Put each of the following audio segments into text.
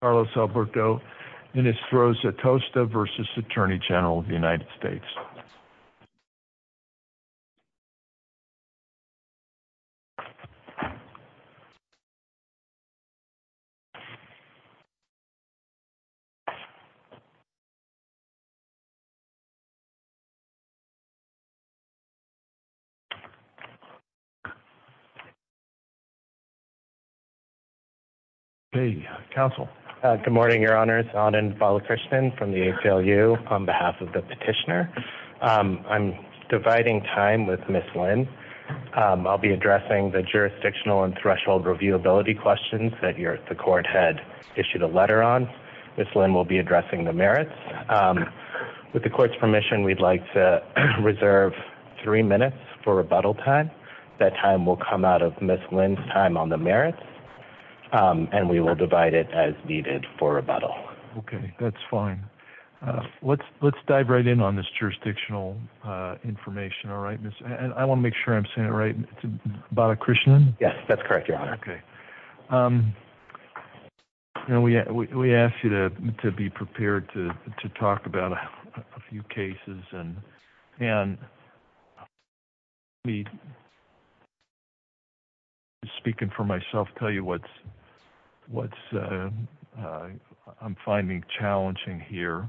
Carlos Alberto, Enestroza-Tosta v. Atty Gen of the United States. Good morning, Your Honors, Anand Balakrishnan from the ACLU, on behalf of the petitioner. I'm dividing time with Ms. Lynn. I'll be addressing the jurisdictional and threshold reviewability questions that the court had issued a letter on. Ms. Lynn will be addressing the merits. With the court's permission, we'd like to reserve three minutes for rebuttal time. That time will come out of Ms. Lynn's time on the merits, and we will divide it as needed for rebuttal. Okay, that's fine. Let's dive right in on this jurisdictional information. I want to make sure I'm saying it right. Mr. Balakrishnan? Yes, that's correct, Your Honor. Okay. We ask you to be prepared to talk about a few cases. And let me, speaking for myself, tell you what I'm finding challenging here.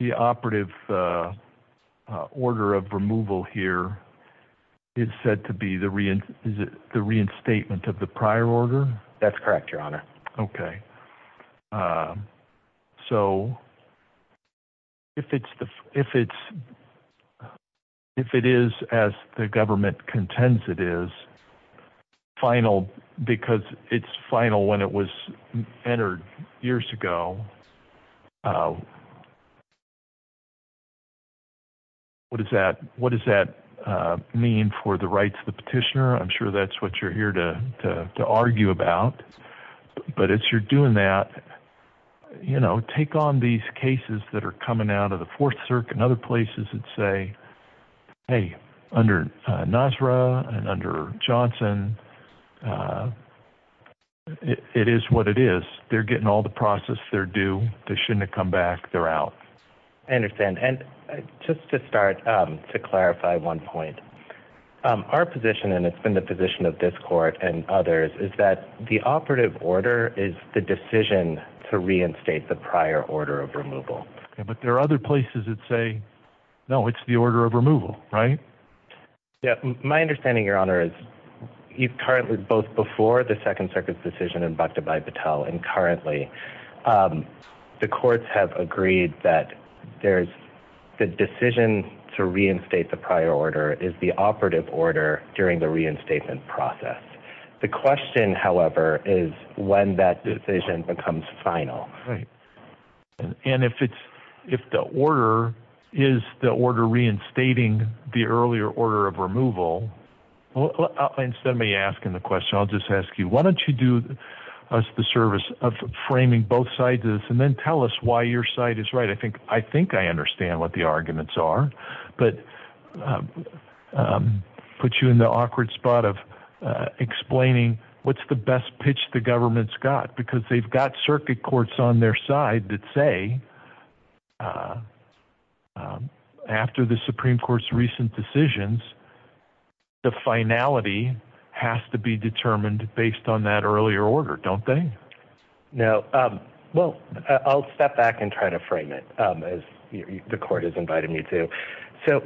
The operative order of removal here is said to be the reinstatement of the prior order? That's correct, Your Honor. Okay. So if it is as the government contends it is, final because it's final when it was entered years ago, what does that mean for the rights of the petitioner? I'm sure that's what you're here to argue about. But as you're doing that, you know, take on these cases that are coming out of the Fourth Circuit and other places that say, hey, under NASRA and under Johnson, it is what it is. They're getting all the process they're due. They shouldn't have come back. They're out. I understand. And just to start, to clarify one point, our position, and it's been the position of this court and others, is that the operative order is the decision to reinstate the prior order of removal. But there are other places that say, no, it's the order of removal, right? My understanding, Your Honor, is currently both before the Second Circuit's decision and currently the courts have agreed that the decision to reinstate the prior order is the operative order during the reinstatement process. The question, however, is when that decision becomes final. Right. And if the order is the order reinstating the earlier order of removal, instead of me asking the question, I'll just ask you, why don't you do us the service of framing both sides of this and then tell us why your side is right? I think I understand what the arguments are. But put you in the awkward spot of explaining what's the best pitch the government's got, because they've got circuit courts on their side that say, after the Supreme Court's recent decisions, the finality has to be determined based on that earlier order, don't they? No. Well, I'll step back and try to frame it, as the court has invited me to. So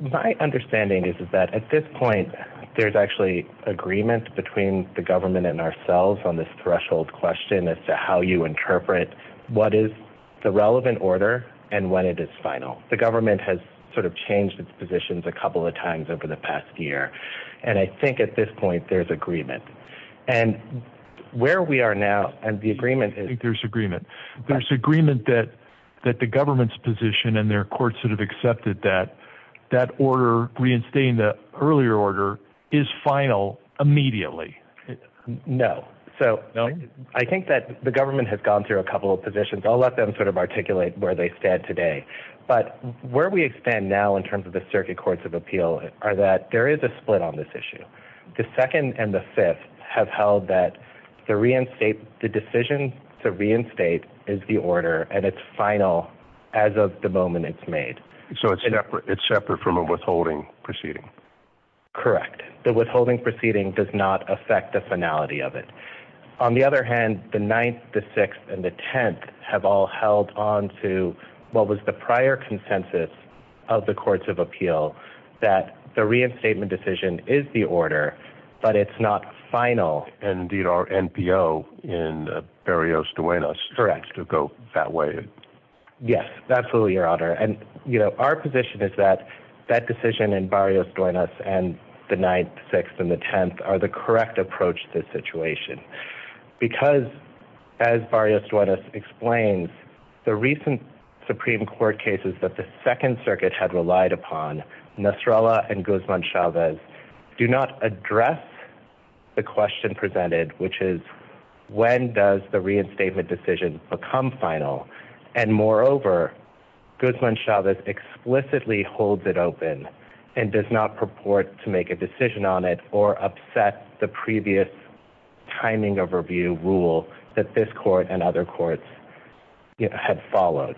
my understanding is that at this point, there's actually agreement between the government and ourselves on this threshold question as to how you interpret what is the relevant order and when it is final. The government has sort of changed its positions a couple of times over the past year. And I think at this point, there's agreement. And where we are now, and the agreement is... I think there's agreement. There's agreement that the government's position and their courts have accepted that that order reinstating the earlier order is final immediately. No. So I think that the government has gone through a couple of positions. I'll let them sort of articulate where they stand today. But where we stand now in terms of the circuit courts of appeal are that there is a split on this issue. The second and the fifth have held that the decision to reinstate is the order and it's final as of the moment it's made. So it's separate from a withholding proceeding. Correct. The withholding proceeding does not affect the finality of it. On the other hand, the ninth, the sixth, and the tenth have all held on to what was the prior consensus of the courts of appeal that the reinstatement decision is the order, but it's not final. Indeed, our NPO in Barrios-Duenas seems to go that way. Absolutely, Your Honor. And, you know, our position is that that decision in Barrios-Duenas and the ninth, sixth, and the tenth are the correct approach to the situation. Because, as Barrios-Duenas explains, the recent Supreme Court cases that the Second Circuit had relied upon, Nastrella and Guzman-Chavez, do not address the question presented, which is when does the reinstatement decision become final. And, moreover, Guzman-Chavez explicitly holds it open and does not purport to make a decision on it or upset the previous timing overview rule that this court and other courts had followed.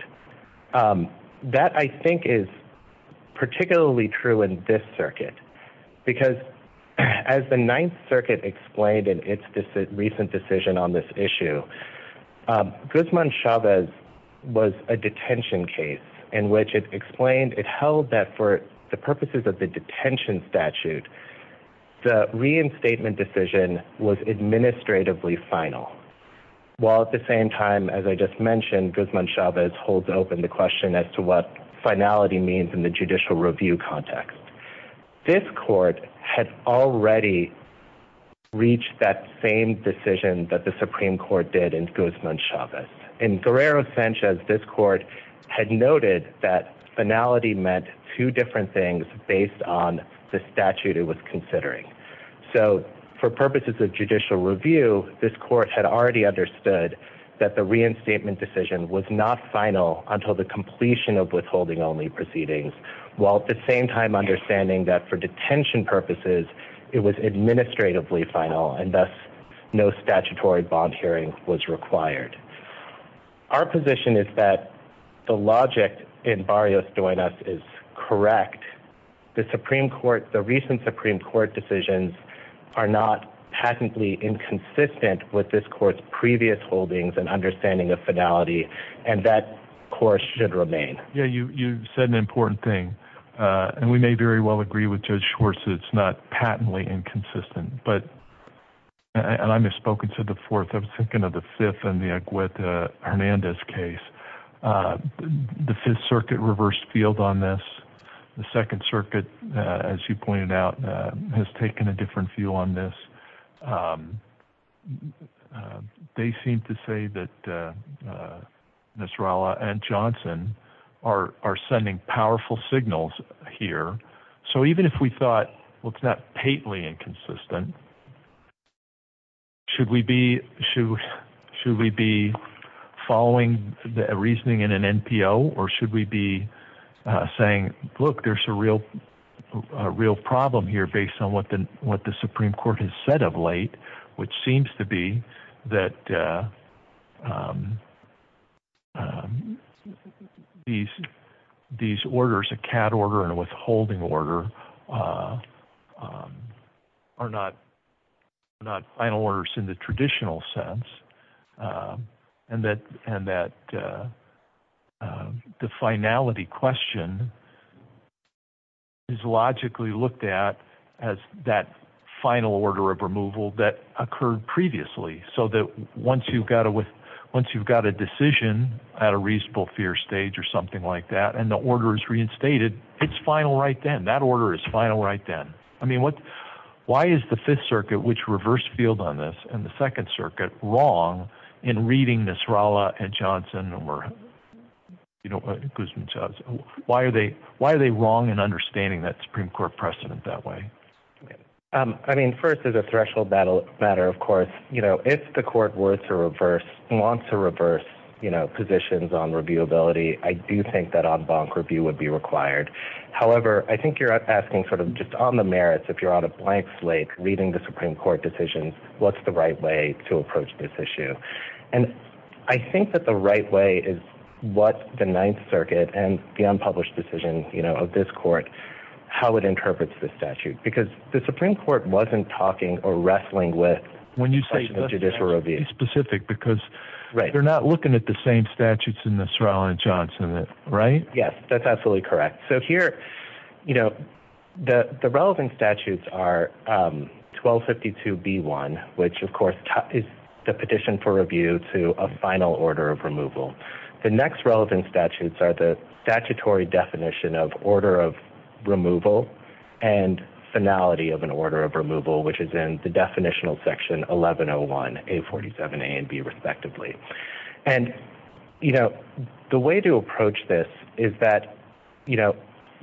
That, I think, is particularly true in this circuit. Because, as the Ninth Circuit explained in its recent decision on this issue, Guzman-Chavez was a detention case in which it explained it held that for the purposes of the detention statute, the reinstatement decision was administratively final, while at the same time, as I just mentioned, Guzman-Chavez holds open the question as to what finality means in the judicial review context. This court had already reached that same decision that the Supreme Court did in Guzman-Chavez. In Guerrero-Sanchez, this court had noted that finality meant two different things based on the statute it was considering. So, for purposes of judicial review, this court had already understood that the reinstatement decision was not final until the completion of withholding-only proceedings, while at the same time understanding that for detention purposes, it was administratively final and thus no statutory bond hearing was required. Our position is that the logic in Barrios-Duenas is correct. The recent Supreme Court decisions are not patently inconsistent with this court's previous holdings and understanding of finality, and that course should remain. Yeah, you said an important thing, and we may very well agree with Judge Schwartz that it's not patently inconsistent. But, and I misspoke and said the fourth, I was thinking of the fifth and the Agueta-Hernandez case. The Fifth Circuit reversed field on this. The Second Circuit, as you pointed out, has taken a different view on this. And they seem to say that Nasrallah and Johnson are sending powerful signals here. So even if we thought, well, it's not patently inconsistent, should we be following the reasoning in an NPO, or should we be saying, look, there's a real problem here based on what the Supreme Court has said of late, which seems to be that these orders, a CAD order and a withholding order, are not final orders in the traditional sense. And that the finality question is logically looked at as that final order of removal that occurred previously. So that once you've got a decision at a reasonable fear stage or something like that, and the order is reinstated, it's final right then. That order is final right then. I mean, why is the Fifth Circuit, which reversed field on this, and the Second Circuit wrong in reading Nasrallah and Johnson or Guzman-Chavez? Why are they wrong in understanding that Supreme Court precedent that way? I mean, first, as a threshold matter, of course, if the court wants to reverse positions on reviewability, I do think that en banc review would be required. However, I think you're asking sort of just on the merits, if you're on a blank slate reading the Supreme Court decisions, what's the right way to approach this issue? And I think that the right way is what the Ninth Circuit and the unpublished decision of this court, how it interprets the statute. Because the Supreme Court wasn't talking or wrestling with the question of judicial review. When you say the statute, be specific, because they're not looking at the same statutes in Nasrallah and Johnson, right? Yes, that's absolutely correct. So here, you know, the relevant statutes are 1252B1, which, of course, is the petition for review to a final order of removal. The next relevant statutes are the statutory definition of order of removal and finality of an order of removal, which is in the definitional section 1101A47A and B, respectively. And, you know, the way to approach this is that, you know,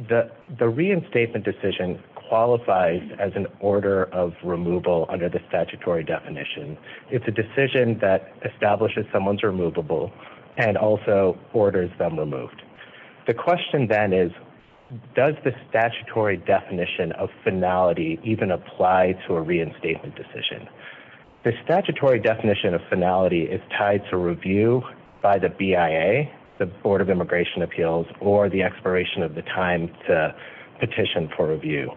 the reinstatement decision qualifies as an order of removal under the statutory definition. It's a decision that establishes someone's removable and also orders them removed. The question then is, does the statutory definition of finality even apply to a reinstatement decision? The statutory definition of finality is tied to review by the BIA, the Board of Immigration Appeals, or the expiration of the time to petition for review.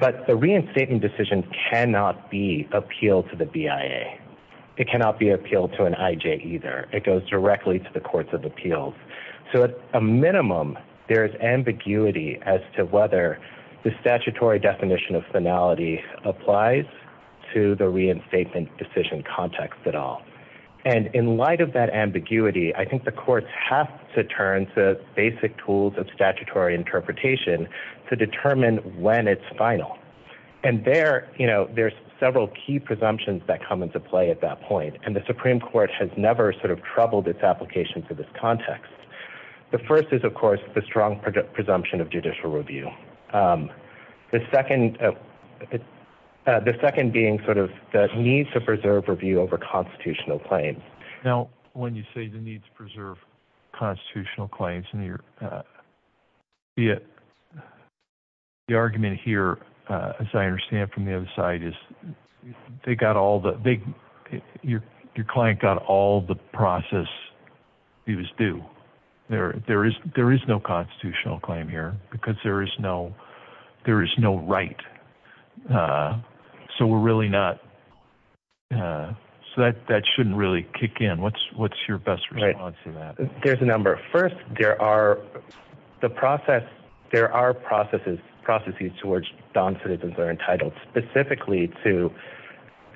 But the reinstatement decision cannot be appealed to the BIA. It cannot be appealed to an IJ either. It goes directly to the courts of appeals. So at a minimum, there is ambiguity as to whether the statutory definition of finality applies to the reinstatement decision context at all. And in light of that ambiguity, I think the courts have to turn to basic tools of statutory interpretation to determine when it's final. And there, you know, there's several key presumptions that come into play at that point. And the Supreme Court has never sort of troubled its application for this context. The first is, of course, the strong presumption of judicial review. The second being sort of the need to preserve review over constitutional claims. Now, when you say the need to preserve constitutional claims, the argument here, as I understand from the other side, is your client got all the process he was due. There is no constitutional claim here because there is no right. So we're really not so that that shouldn't really kick in. What's what's your best response to that? There's a number. First, there are the process. There are processes. Processes towards citizens are entitled specifically to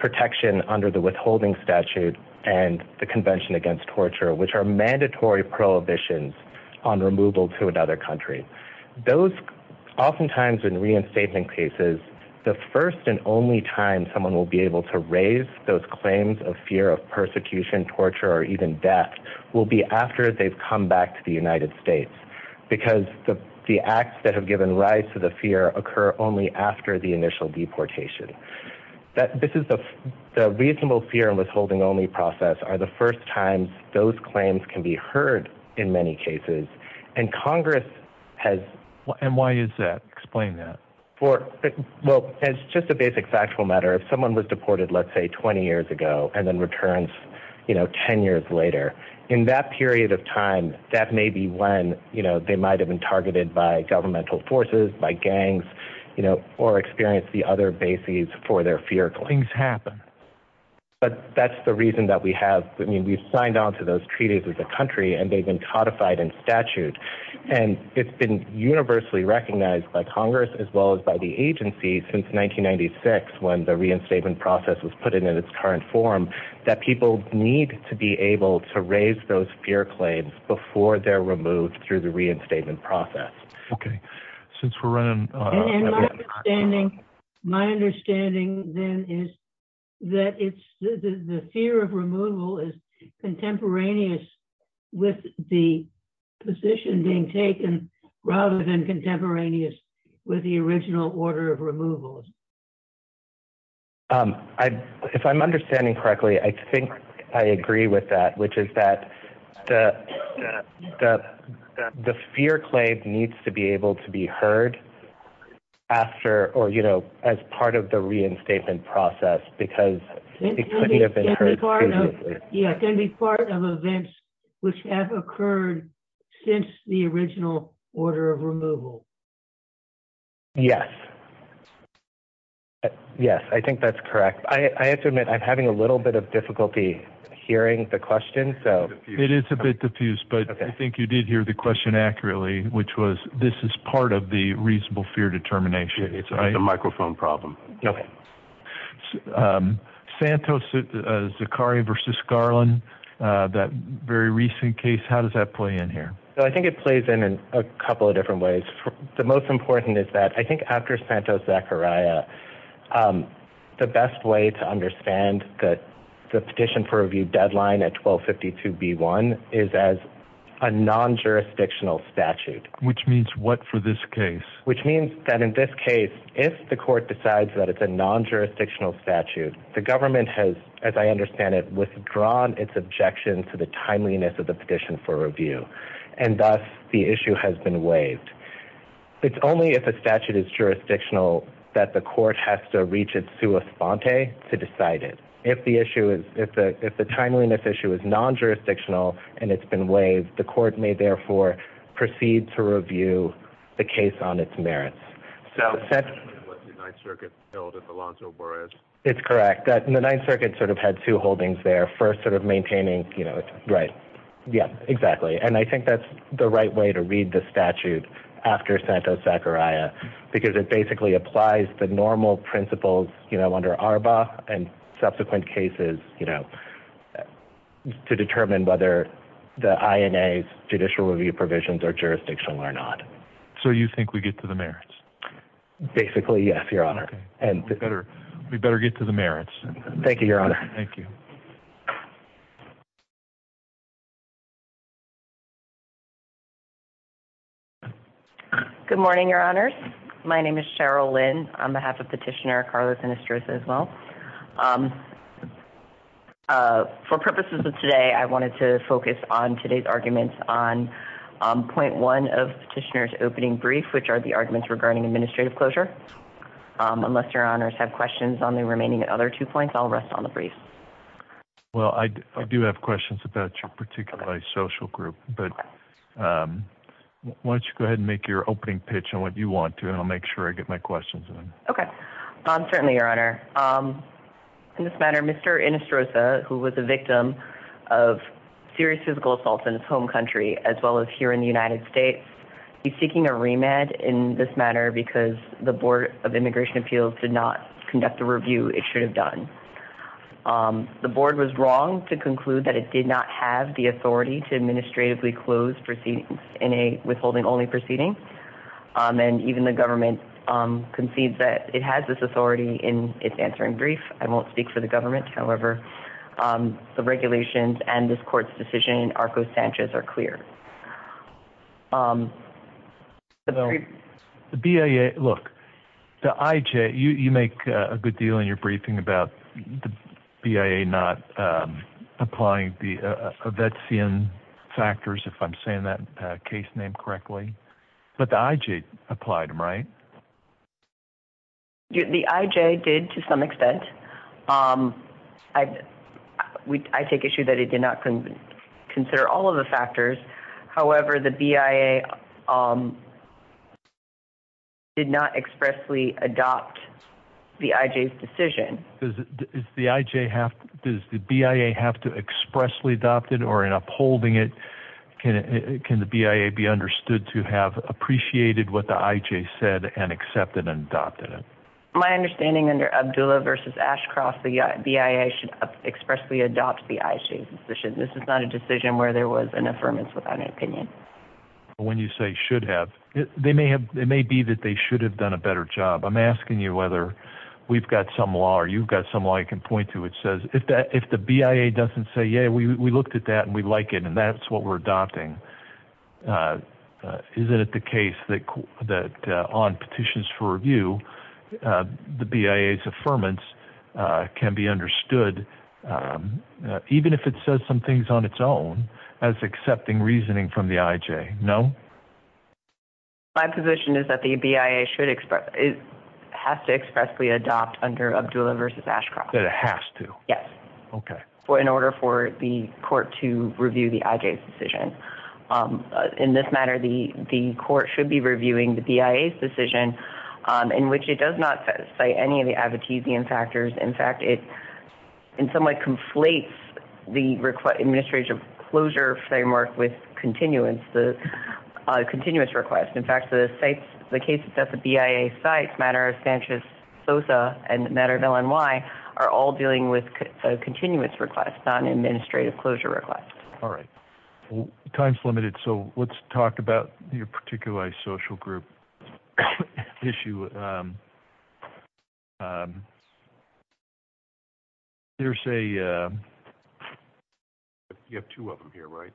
protection under the withholding statute and the Convention Against Torture, which are mandatory prohibitions on removal to another country. Those oftentimes in reinstatement cases, the first and only time someone will be able to raise those claims of fear of persecution, torture, or even death will be after they've come back to the United States because the acts that have given rise to the fear occur only after the initial deportation. This is the reasonable fear and withholding only process are the first time those claims can be heard in many cases. And Congress has. And why is that? Explain that. Well, it's just a basic factual matter. If someone was deported, let's say 20 years ago and then returns, you know, 10 years later in that period of time, that may be when, you know, they might have been targeted by governmental forces, by gangs, you know, or experience the other bases for their fear. Things happen. But that's the reason that we have. I mean, we've signed on to those treaties with the country and they've been codified in statute. And it's been universally recognized by Congress as well as by the agency since 1996 when the reinstatement process was put in its current form that people need to be able to raise those fear claims before they're removed through the reinstatement process. Okay. Since we're running. My understanding, then, is that it's the fear of removal is contemporaneous with the position being taken rather than contemporaneous with the original order of removal. If I'm understanding correctly, I think I agree with that, which is that the fear claim needs to be able to be heard after, or, you know, as part of the reinstatement process, because it couldn't have been heard previously. Yeah, it can be part of events which have occurred since the original order of removal. Yes. Yes, I think that's correct. I have to admit, I'm having a little bit of difficulty hearing the question. So it is a bit diffused. But I think you did hear the question accurately, which was this is part of the reasonable fear determination. It's a microphone problem. Okay. Santos, Zakaria versus Garland. That very recent case. How does that play in here? So I think it plays in a couple of different ways. The most important is that I think after Santos-Zakaria, the best way to understand that the petition for review deadline at 1252B1 is as a non-jurisdictional statute. Which means what for this case? Which means that in this case, if the court decides that it's a non-jurisdictional statute, the government has, as I understand it, withdrawn its objection to the timeliness of the petition for review. And thus, the issue has been waived. It's only if a statute is jurisdictional that the court has to reach its sua sponte to decide it. If the timeliness issue is non-jurisdictional and it's been waived, the court may, therefore, proceed to review the case on its merits. It's correct. The Ninth Circuit sort of had two holdings there. First, sort of maintaining, you know, right. Yeah, exactly. And I think that's the right way to read the statute after Santos-Zakaria because it basically applies the normal principles, you know, under ARBA and subsequent cases, you know, to determine whether the INA's judicial review provisions are jurisdictional or not. So you think we get to the merits? Basically, yes, Your Honor. We better get to the merits. Thank you, Your Honor. Thank you. Good morning, Your Honors. My name is Cheryl Lynn. On behalf of Petitioner Carlos and Estreza as well. For purposes of today, I wanted to focus on today's arguments on point one of Petitioner's opening brief, which are the arguments regarding administrative closure. Unless Your Honors have questions on the remaining other two points, I'll rest on the brief. Well, I do have questions about your particular social group, but why don't you go ahead and make your opening pitch on what you want to, and I'll make sure I get my questions in. Okay. Certainly, Your Honor. In this matter, Mr. Estreza, who was a victim of serious physical assault in his home country as well as here in the United States, is seeking a remand in this matter because the Board of Immigration Appeals did not conduct the review it should have done. The Board was wrong to conclude that it did not have the authority to administratively close proceedings in a withholding-only proceeding, and even the government concedes that it has this authority in its answering brief. I won't speak for the government. However, the regulations and this court's decision in Arcos Sanchez are clear. The BIA, look, the IJ, you make a good deal in your briefing about the BIA not applying the Evetsian factors, if I'm saying that case name correctly, but the IJ applied them, right? The IJ did to some extent. I take issue that it did not consider all of the factors. However, the BIA did not expressly adopt the IJ's decision. Does the BIA have to expressly adopt it or, in upholding it, can the BIA be understood to have appreciated what the IJ said and accepted and adopted it? My understanding under Abdullah v. Ashcroft, the BIA should expressly adopt the IJ's decision. This is not a decision where there was an affirmance without an opinion. When you say should have, it may be that they should have done a better job. I'm asking you whether we've got some law or you've got some law I can point to which says if the BIA doesn't say, yeah, we looked at that and we like it and that's what we're adopting, is it the case that on petitions for review, the BIA's affirmance can be understood, even if it says some things on its own, as accepting reasoning from the IJ, no? My position is that the BIA has to expressly adopt under Abdullah v. Ashcroft. That it has to? Yes. Okay. In order for the court to review the IJ's decision. In this matter, the court should be reviewing the BIA's decision, in which it does not cite any of the Advocazian factors. In fact, it in some way conflates the administration closure framework with continuance, the continuance request. In fact, the case that the BIA cites, matter of Sanchez-Sosa and the matter of LNY, are all dealing with a continuance request, not an administrative closure request. All right. Time's limited, so let's talk about your particular social group issue. There's a, you have two of them here, right?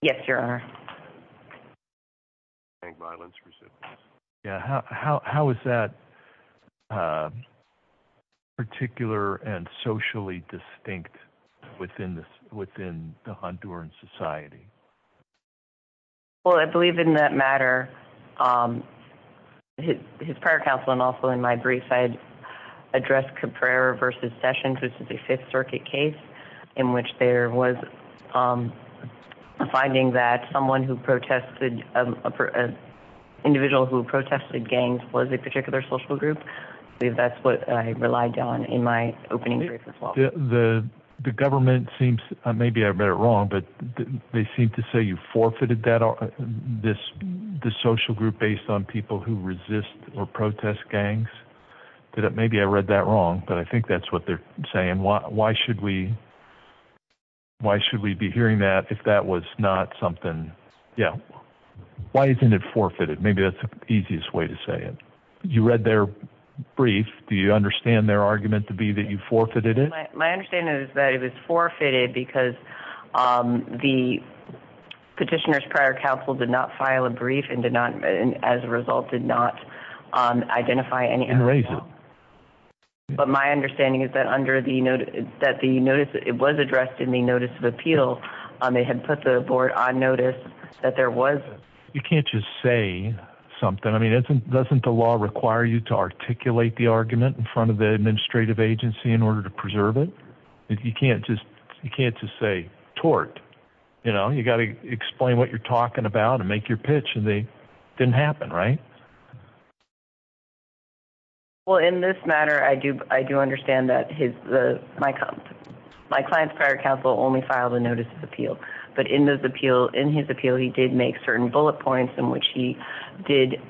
Yes, Your Honor. How is that particular and socially distinct within the Honduran society? Well, I believe in that matter, his prior counsel and also in my brief, I addressed Cabrera v. Sessions. This is a Fifth Circuit case in which there was a finding that someone who protested, an individual who protested gangs was a particular social group. I believe that's what I relied on in my opening brief as well. The government seems, maybe I read it wrong, but they seem to say you forfeited this social group based on people who resist or protest gangs. Maybe I read that wrong, but I think that's what they're saying. Why should we be hearing that if that was not something, yeah. Why isn't it forfeited? Maybe that's the easiest way to say it. You read their brief. Do you understand their argument to be that you forfeited it? My understanding is that it was forfeited because the petitioner's prior counsel did not file a brief and did not, as a result, did not identify any... And raise it. But my understanding is that under the, that the notice, it was addressed in the notice of appeal. They had put the board on notice that there was... You can't just say something. I mean, doesn't the law require you to articulate the argument in front of the administrative agency in order to preserve it? You can't just say tort. You know, you got to explain what you're talking about and make your pitch, and it didn't happen, right? Well, in this matter, I do understand that my client's prior counsel only filed a notice of appeal. But in his appeal, he did make certain bullet points in which he did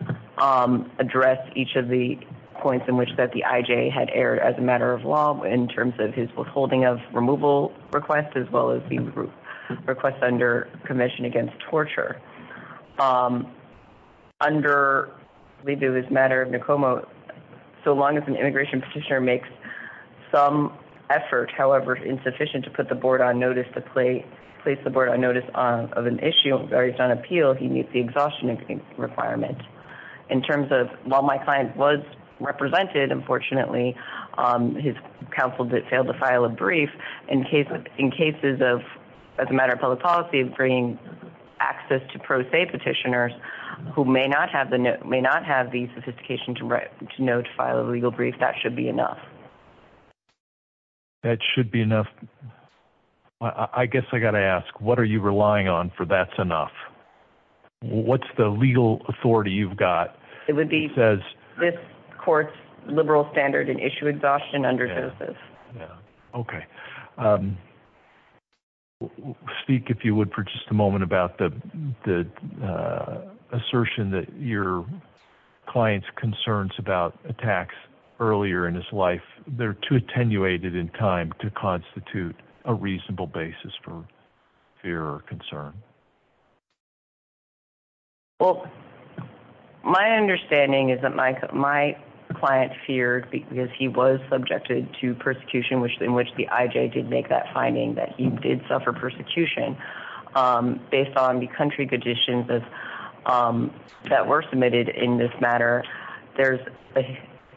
address each of the points in which that the IJ had erred as a matter of law, in terms of his withholding of removal request, as well as the request under commission against torture. Under Libu, as a matter of NACOMA, so long as an immigration petitioner makes some effort, however insufficient, to put the board on notice to place the board on notice of an issue, or he's on appeal, he meets the exhaustion requirement. In terms of, while my client was represented, unfortunately, his counsel failed to file a brief. In cases of, as a matter of public policy, of bringing access to pro se petitioners who may not have the sophistication to know to file a legal brief, that should be enough. That should be enough. I guess I got to ask, what are you relying on for that's enough? What's the legal authority you've got? It would be this court's liberal standard and issue exhaustion under JOSEPH. Okay. Speak, if you would, for just a moment about the assertion that your client's concerns about attacks earlier in his life, they're too attenuated in time to constitute a reasonable basis for fear or concern. Well, my understanding is that my client feared because he was subjected to persecution, in which the IJ did make that finding that he did suffer persecution. Based on the country conditions that were submitted in this matter, there's a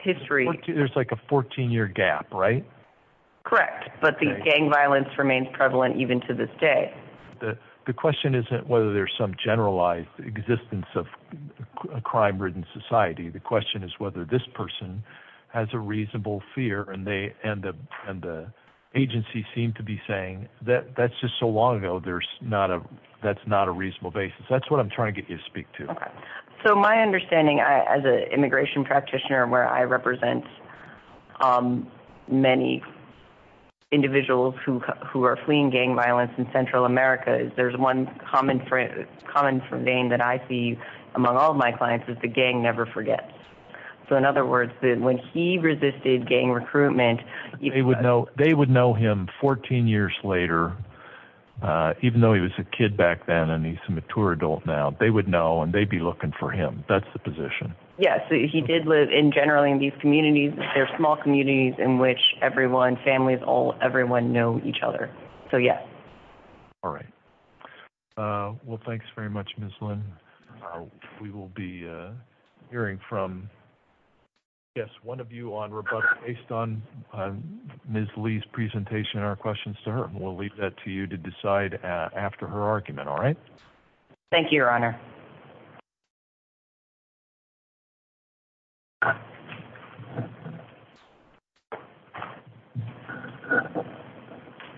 history. There's like a 14-year gap, right? Correct, but the gang violence remains prevalent even to this day. The question isn't whether there's some generalized existence of a crime-ridden society. The question is whether this person has a reasonable fear, and the agency seemed to be saying, that's just so long ago, that's not a reasonable basis. That's what I'm trying to get you to speak to. Okay. So my understanding as an immigration practitioner where I represent many individuals who are fleeing gang violence in Central America, is there's one common thing that I see among all of my clients is the gang never forgets. So in other words, when he resisted gang recruitment- They would know him 14 years later, even though he was a kid back then and he's a mature adult now. They would know and they'd be looking for him. That's the position. Yes, he did live generally in these communities. They're small communities in which everyone, families, everyone know each other. So yes. All right. Well, thanks very much, Ms. Lynn. We will be hearing from one of you on rebuttal based on Ms. Lee's presentation and our questions to her. We'll leave that to you to decide after her argument, all right? Thank you, Your Honor.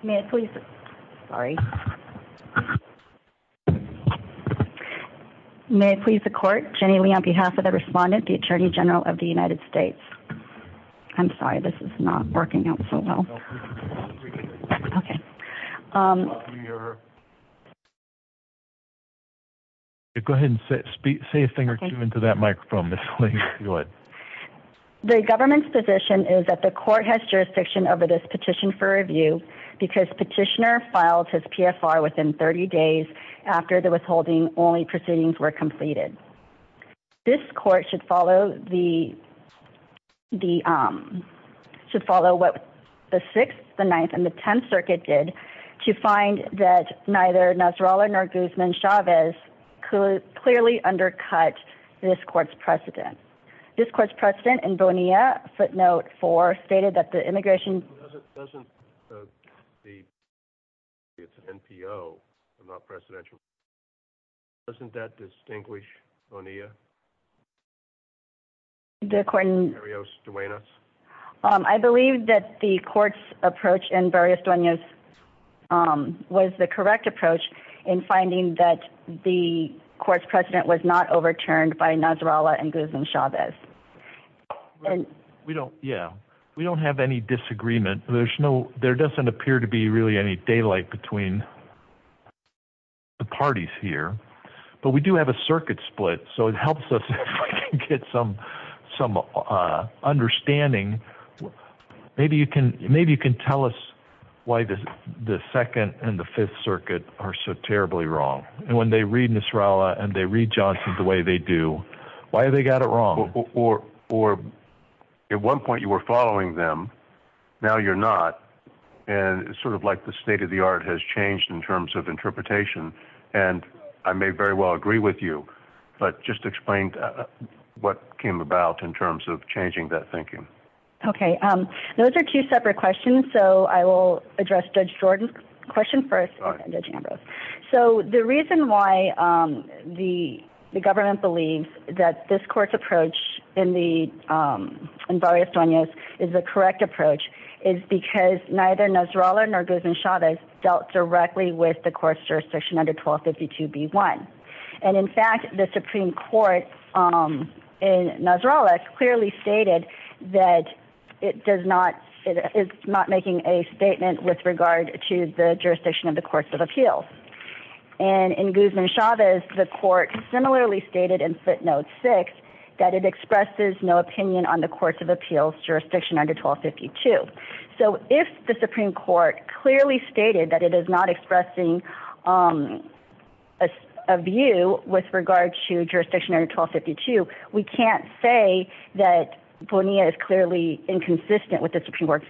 May I please- Sorry. May I please the court? Jenny Lee on behalf of the respondent, the Attorney General of the United States. I'm sorry, this is not working out so well. Okay. Go ahead and say a thing or two into that microphone, Ms. Lee. Go ahead. The government's position is that the court has jurisdiction over this petition for review because petitioner filed his PFR within 30 days after the withholding, only proceedings were completed. This court should follow what the Sixth, the Ninth, and the Tenth Circuit did to find that neither Nasrallah nor Guzman Chavez could clearly undercut this court's precedent. This court's precedent in Bonilla footnote four stated that the immigration- Doesn't the NPO, the non-presidential, doesn't that distinguish Bonilla? The court in- Barrios-Duenas? I believe that the court's approach in Barrios-Duenas was the correct approach in finding that the court's precedent was not overturned by Nasrallah and Guzman Chavez. We don't have any disagreement. There doesn't appear to be really any daylight between the parties here. But we do have a circuit split, so it helps us get some understanding. Maybe you can tell us why the Second and the Fifth Circuit are so terribly wrong. When they read Nasrallah and they read Johnson the way they do, why have they got it wrong? Or at one point you were following them, now you're not, and it's sort of like the state of the art has changed in terms of interpretation. And I may very well agree with you, but just explain what came about in terms of changing that thinking. Okay, those are two separate questions, so I will address Judge Jordan's question first. So the reason why the government believes that this court's approach in Barrios-Duenas is the correct approach is because neither Nasrallah nor Guzman Chavez dealt directly with the court's jurisdiction under 1252b-1. And in fact, the Supreme Court in Nasrallah clearly stated that it is not making a statement with regard to the jurisdiction of the courts of appeals. And in Guzman Chavez, the court similarly stated in footnote 6 that it expresses no opinion on the courts of appeals jurisdiction under 1252. So if the Supreme Court clearly stated that it is not expressing a view with regard to jurisdiction under 1252, we can't say that Bonilla is clearly inconsistent with the Supreme Court's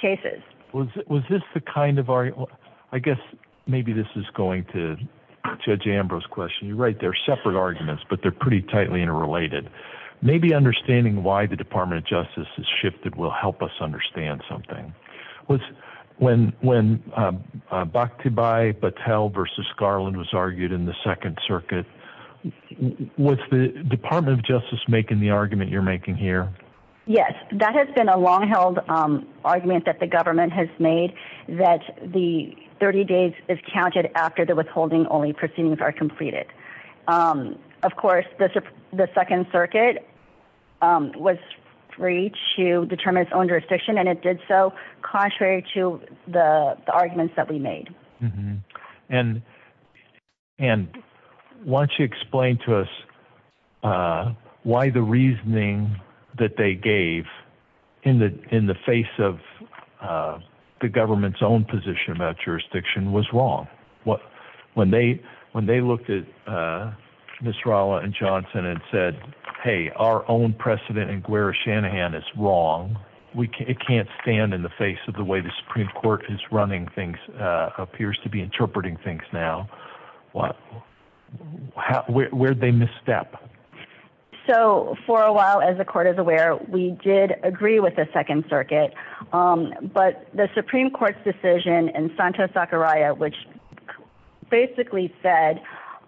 cases. Was this the kind of – I guess maybe this is going to Judge Ambrose's question. You're right, they're separate arguments, but they're pretty tightly interrelated. Maybe understanding why the Department of Justice has shifted will help us understand something. When Bhakti Bai Patel v. Garland was argued in the Second Circuit, was the Department of Justice making the argument you're making here? Yes, that has been a long-held argument that the government has made, that the 30 days is counted after the withholding only proceedings are completed. Of course, the Second Circuit was free to determine its own jurisdiction, and it did so contrary to the arguments that we made. And why don't you explain to us why the reasoning that they gave in the face of the government's own position about jurisdiction was wrong. When they looked at Ms. Rolla and Johnson and said, hey, our own precedent in Gwere Shanahan is wrong, it can't stand in the face of the way the Supreme Court is running things, appears to be interpreting things now. Where did they misstep? So for a while, as the Court is aware, we did agree with the Second Circuit, but the Supreme Court's decision in Santo Sakaraya, which basically said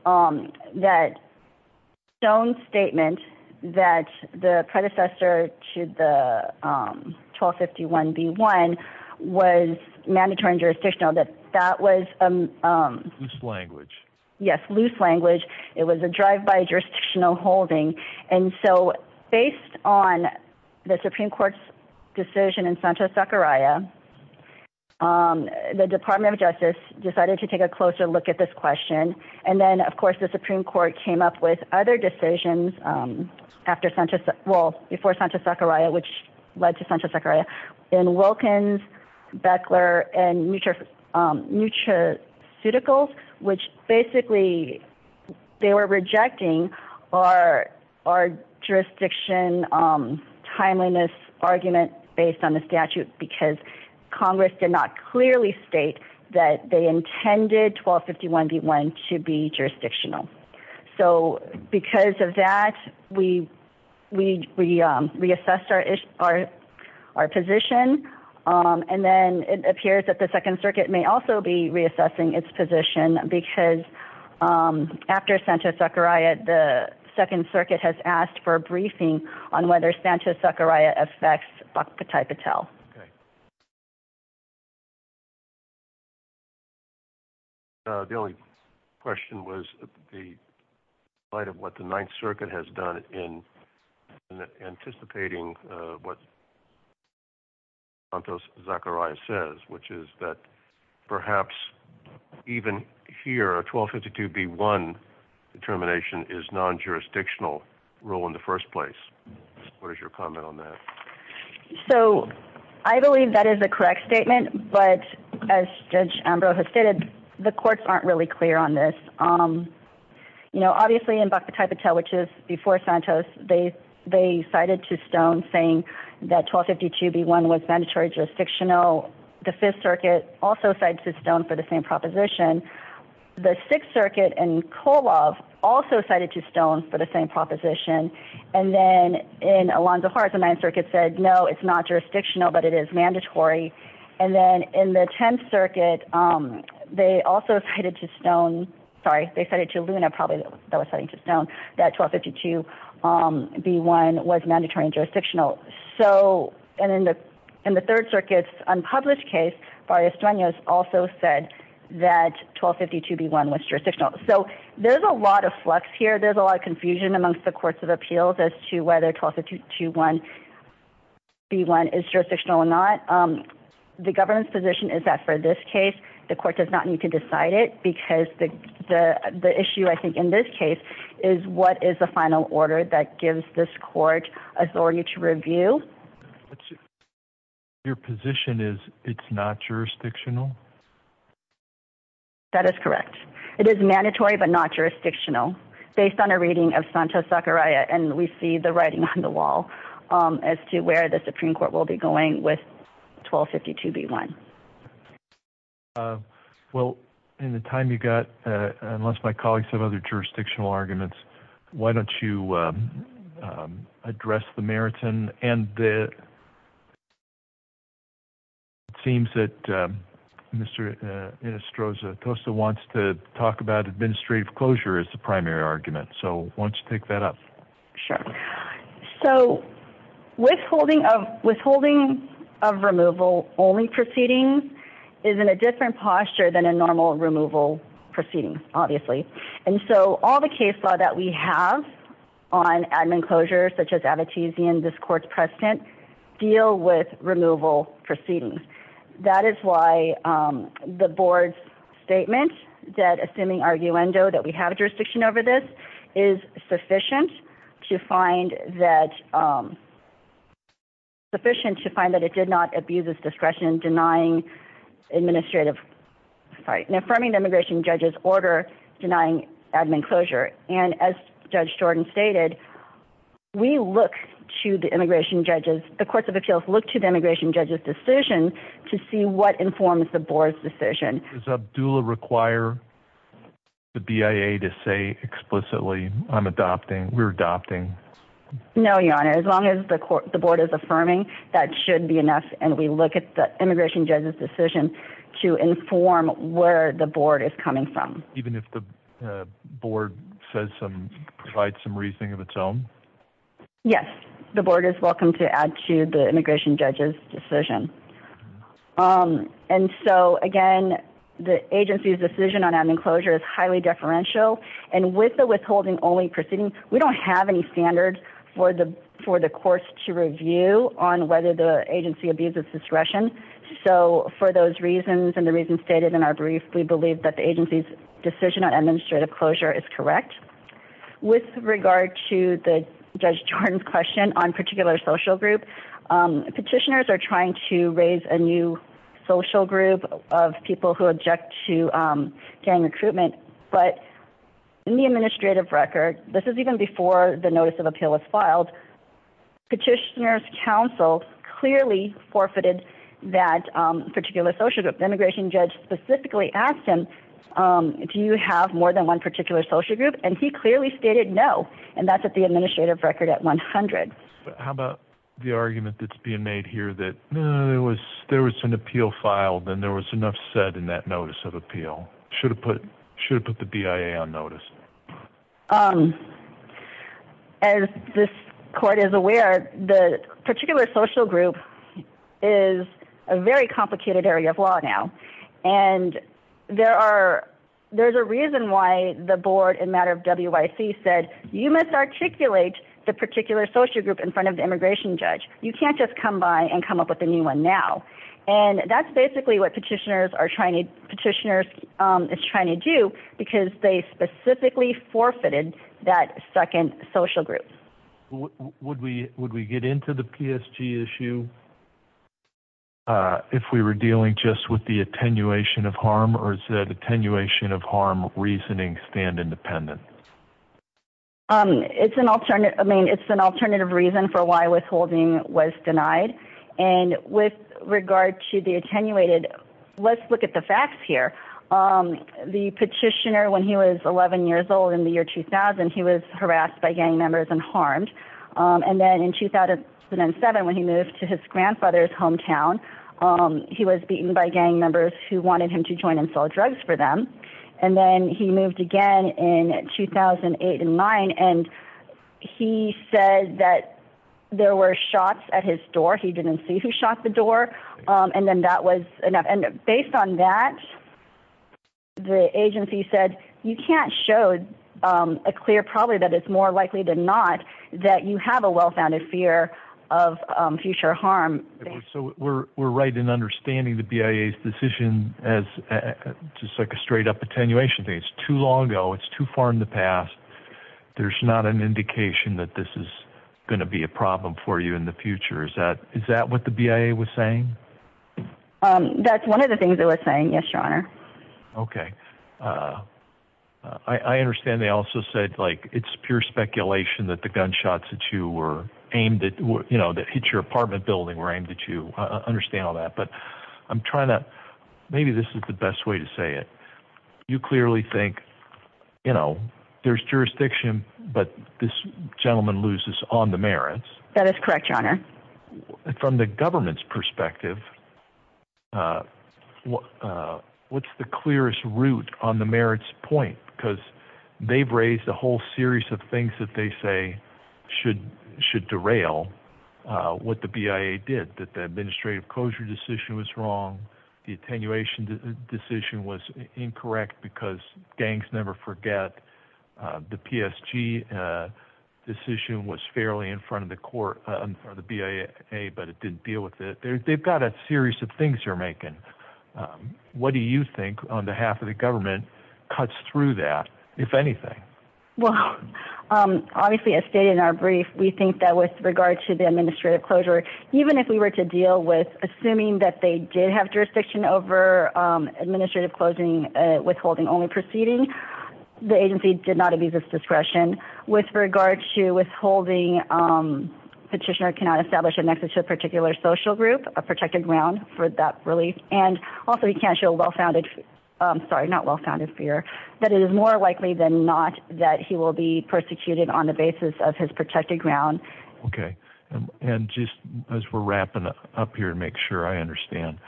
that its own statement that the predecessor to the 1251B1 was mandatory and jurisdictional, that that was a... Loose language. Yes, loose language. It was a drive-by jurisdictional holding. And so based on the Supreme Court's decision in Santo Sakaraya, the Department of Justice decided to take a closer look at this question, and then, of course, the Supreme Court came up with other decisions before Santo Sakaraya, which led to Santo Sakaraya, in Wilkins, Beckler, and Nutraceuticals, which basically they were rejecting our jurisdiction timeliness argument based on the statute because Congress did not clearly state that they intended 1251B1 to be jurisdictional. So because of that, we reassessed our position, and then it appears that the Second Circuit may also be reassessing its position because after Santo Sakaraya, the Second Circuit has asked for a briefing on whether Santo Sakaraya affects Patai Patel. Okay. The only question was the light of what the Ninth Circuit has done in anticipating what Santo Sakaraya says, which is that perhaps even here, 1252B1 determination is non-jurisdictional rule in the first place. What is your comment on that? So I believe that is a correct statement, but as Judge Ambrose has stated, the courts aren't really clear on this. Obviously in Patai Patel, which is before Santos, they cited to stone saying that 1252B1 was mandatory jurisdictional. The Fifth Circuit also cited to stone for the same proposition. The Sixth Circuit in Kolov also cited to stone for the same proposition. And then in Alonzo-Hart, the Ninth Circuit said, no, it's not jurisdictional, but it is mandatory. And then in the Tenth Circuit, they also cited to stone, sorry, they cited to Luna probably that was citing to stone that 1252B1 was mandatory and jurisdictional. And in the Third Circuit's unpublished case, Barrios-Duenas also said that 1252B1 was jurisdictional. So there's a lot of flux here. There's a lot of confusion amongst the courts of appeals as to whether 1252B1 is jurisdictional or not. The government's position is that for this case, the court does not need to decide it because the issue, I think, in this case is what is the final order that gives this court authority to review? Your position is it's not jurisdictional? That is correct. It is mandatory but not jurisdictional. Based on a reading of Santos-Zachariah, and we see the writing on the wall as to where the Supreme Court will be going with 1252B1. Well, in the time you've got, unless my colleagues have other jurisdictional arguments, why don't you address the Meriton? And it seems that Mr. Inostroza-Tosta wants to talk about administrative closure as the primary argument. So why don't you take that up? Sure. So withholding of removal only proceedings is in a different posture than a normal removal proceeding, obviously. And so all the case law that we have on admin closure, such as Abitizian, this court's precedent, deal with removal proceedings. That is why the board's statement, that assuming arguendo that we have a jurisdiction over this, is sufficient to find that, sufficient to find that it did not abuse its discretion denying administrative, sorry, an affirming immigration judges order denying admin closure. And as judge Jordan stated, we look to the immigration judges, the courts of appeals look to the immigration judges decision to see what informs the board's decision. Does Abdullah require the BIA to say explicitly I'm adopting, we're adopting? No, your honor, as long as the court, the board is affirming, that should be enough. And we look at the immigration judges decision to inform where the board is coming from. Even if the board says some provide some reasoning of its own. Yes. The board is welcome to add to the immigration judges decision. And so again, the agency's decision on admin closure is highly deferential and with the withholding only proceeding, we don't have any standards for the, for the course to review on whether the agency abuses discretion. So for those reasons and the reasons stated in our brief, we believe that the agency's decision on administrative closure is correct with regard to the judge Jordan's question on particular social group. Petitioners are trying to raise a new social group of people who object to gang recruitment, but in the administrative record, this is even before the notice of appeal was filed petitioners council clearly forfeited that particular social group. Immigration judge specifically asked him, do you have more than one particular social group? And he clearly stated no. And that's at the administrative record at 100. How about the argument that's being made here that there was, there was an appeal filed and there was enough said in that notice of appeal should have put, should put the BIA on notice. As this court is aware, the particular social group is a very complicated area of law now. And there are, there's a reason why the board and matter of WIC said, you must articulate the particular social group in front of the immigration judge. You can't just come by and come up with a new one now. And that's basically what petitioners are trying to petitioners is trying to do. Because they specifically forfeited that second social group. Would we, would we get into the PSG issue? If we were dealing just with the attenuation of harm or is that attenuation of harm reasoning stand independent? It's an alternate. I mean, it's an alternative reason for why withholding was denied. And with regard to the attenuated, let's look at the facts here. The petitioner, when he was 11 years old in the year 2000, he was harassed by gang members and harmed. And then in 2007, when he moved to his grandfather's hometown, he was beaten by gang members who wanted him to join and sell drugs for them. And then he moved again in 2008 and nine. And he said that there were shots at his door. He didn't see who shot the door. And then that was enough. And based on that, the agency said, you can't show a clear probably that it's more likely than not that you have a well-founded fear of future harm. So we're, we're right in understanding the BIA's decision as just like a straight up attenuation. It's too long ago. It's too far in the past. There's not an indication that this is going to be a problem for you in the future. Is that, is that what the BIA was saying? That's one of the things that was saying yes, your honor. Okay. I understand. They also said like it's pure speculation that the gunshots that you were aimed at, you know, that hits your apartment building were aimed at you. I understand all that, but I'm trying to, maybe this is the best way to say it. You clearly think, you know, there's jurisdiction, but this gentleman loses on the merits. That is correct, your honor. And from the government's perspective, what's the clearest route on the merits point? Because they've raised a whole series of things that they say should, should derail what the BIA did that the administrative closure decision was wrong. The attenuation decision was incorrect because gangs never forget the PSG decision was fairly in front of the court or the BIA, but it didn't deal with it. They've got a series of things you're making. What do you think on behalf of the government cuts through that? If anything? Well, obviously as stated in our brief, we think that with regard to the administrative closure, even if we were to deal with assuming that they did have jurisdiction over administrative closing, withholding only proceeding, the agency did not abuse its discretion with regard to withholding. Petitioner cannot establish an exit to a particular social group, a protected ground for that relief. And also he can't show a well-founded, sorry, not well-founded fear that it is more likely than not, that he will be persecuted on the basis of his protected ground. Okay. And just as we're wrapping up here and make sure I understand,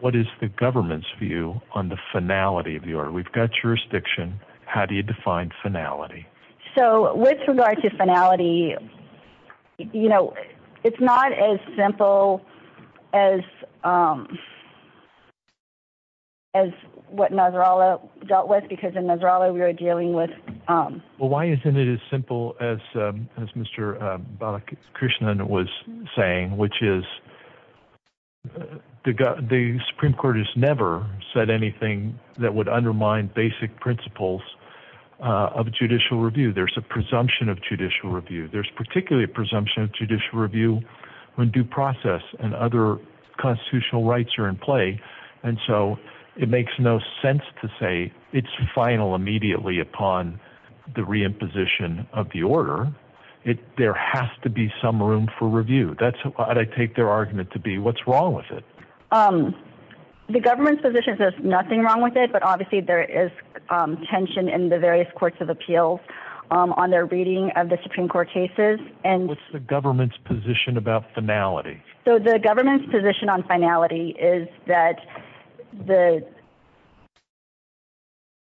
what is the government's view on the finality of the order? We've got jurisdiction. How do you define finality? So with regard to finality, you know, it's not as simple as, um, as what Nasrallah dealt with because in Nasrallah we were dealing with, um, well, why isn't it as simple as, um, as Mr. Balakrishnan was saying, which is the Supreme court has never said anything that would undermine the underlying basic principles, uh, of judicial review. There's a presumption of judicial review. There's particularly a presumption of judicial review when due process and other constitutional rights are in play. And so it makes no sense to say it's final immediately upon the re-imposition of the order. It, there has to be some room for review. That's, I take their argument to be what's wrong with it. Um, the government's position says nothing wrong with it, but obviously there is tension in the various courts of appeals, um, on their reading of the Supreme court cases. And what's the government's position about finality? So the government's position on finality is that the,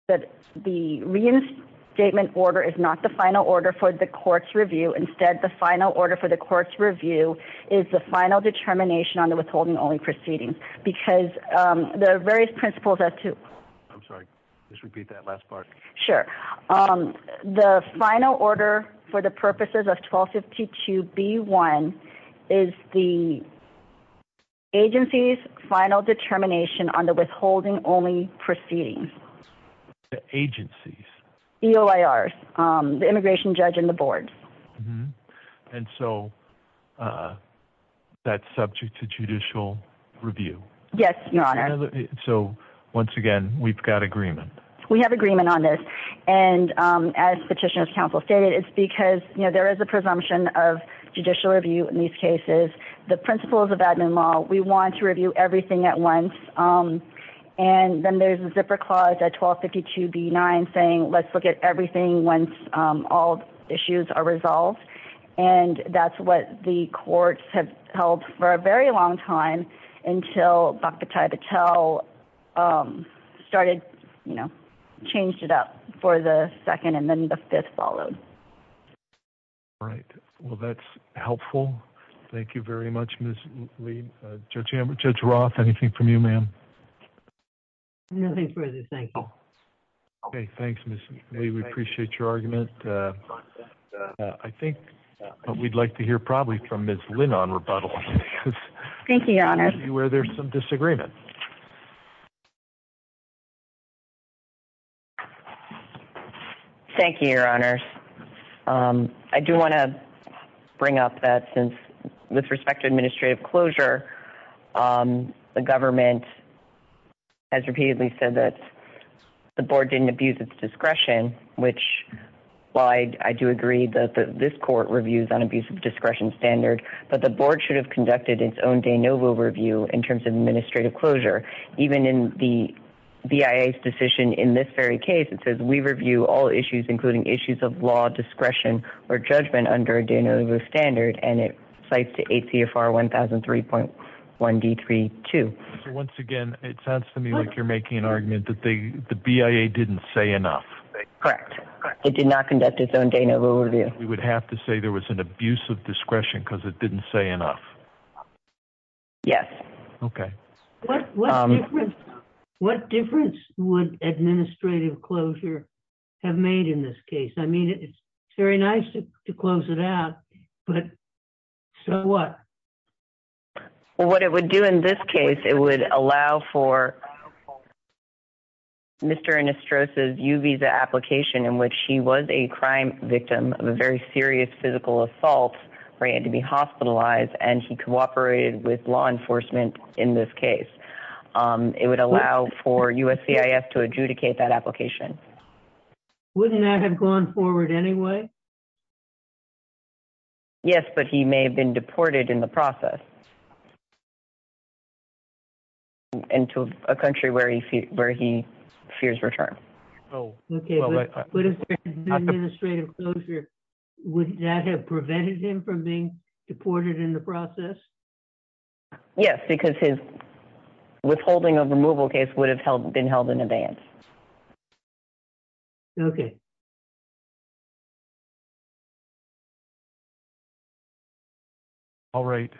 that the reinstatement order is not the final order for the court's review. Instead, the final order for the court's review is the final determination on the withholding only proceedings, because, um, there are various principles as to, I'm sorry, just repeat that last part. Sure. Um, the final order for the purposes of 1252 B one is the agency's final determination on the withholding only proceedings, the agency's EOIRs, um, the immigration judge and the boards. And so, uh, that's subject to judicial review. Yes, Your Honor. So once again, we've got agreement, we have agreement on this. And, um, as petitioners counsel stated, it's because there is a presumption of judicial review in these cases, the principles of admin law, we want to review everything at once. Um, and then there's a zipper clause at 1252 B nine saying, let's look at everything once, um, all issues are resolved. And that's what the courts have held for a very long time until the 1272 was adopted and they repeated it five times. But it doesn't mean that's what the courts have decided. This amendment would be passed just in two years after they had Um, I believe it will actually go through for a longer time. Okay. All right, let's take a look at the first petition. Thank you, Your Honor. Thank you, Your Honors. I do want to bring up that since, with respect to administrative closure, the government has repeatedly said that the board didn't abuse its discretion, which, while I do agree that this court reviews unabusive discretion standard, but the board should have conducted its own de novo review in terms of administrative closure. Even in the BIA's decision in this very case, it says we review all issues including issues of law, discretion, or judgment under a de novo standard, and it cites the ACFR 1003.1D32. So, once again, it sounds to me like you're making an argument that the BIA didn't say enough. Correct. It did not conduct its own de novo review. We would have to say there was an abuse of discretion because it didn't say enough. Yes. Okay. What difference would administrative closure have made in this case? I mean, it's very nice to close it out, but so what? Well, what it would do in this case, it would allow for Mr. Anastros' U-Visa application in which he was a crime victim of a very serious physical assault where he had to be hospitalized, and he cooperated with law enforcement in this case. It would allow for USCIS to adjudicate that application. Wouldn't that have gone forward anyway? Yes, but he may have been deported in the process into a country where he fears return. Okay, but if there had been administrative closure, wouldn't that have prevented him from being deported in the process? Yes, because his withholding of removal case would have been held in advance. Okay. All right.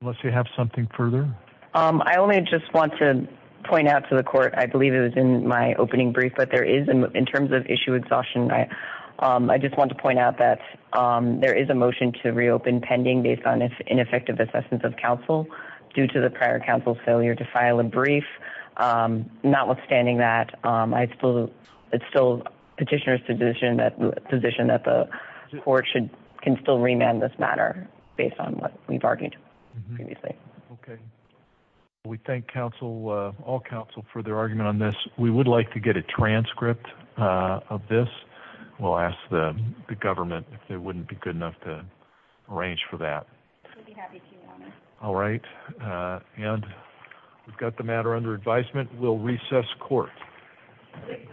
Unless you have something further. I only just want to point out to the court, I believe it was in my opening brief, but in terms of issue exhaustion, I just want to point out that there is a motion to reopen pending based on ineffective assessments of counsel due to the prior counsel's failure to file a brief. Notwithstanding that, it's still petitioner's position that the court can still remand this matter based on what we've argued previously. Okay. We thank all counsel for their argument on this. We would like to get a transcript of this. We'll ask the government if it wouldn't be good enough to arrange for that. All right, and we've got the matter under advisement. We'll recess court.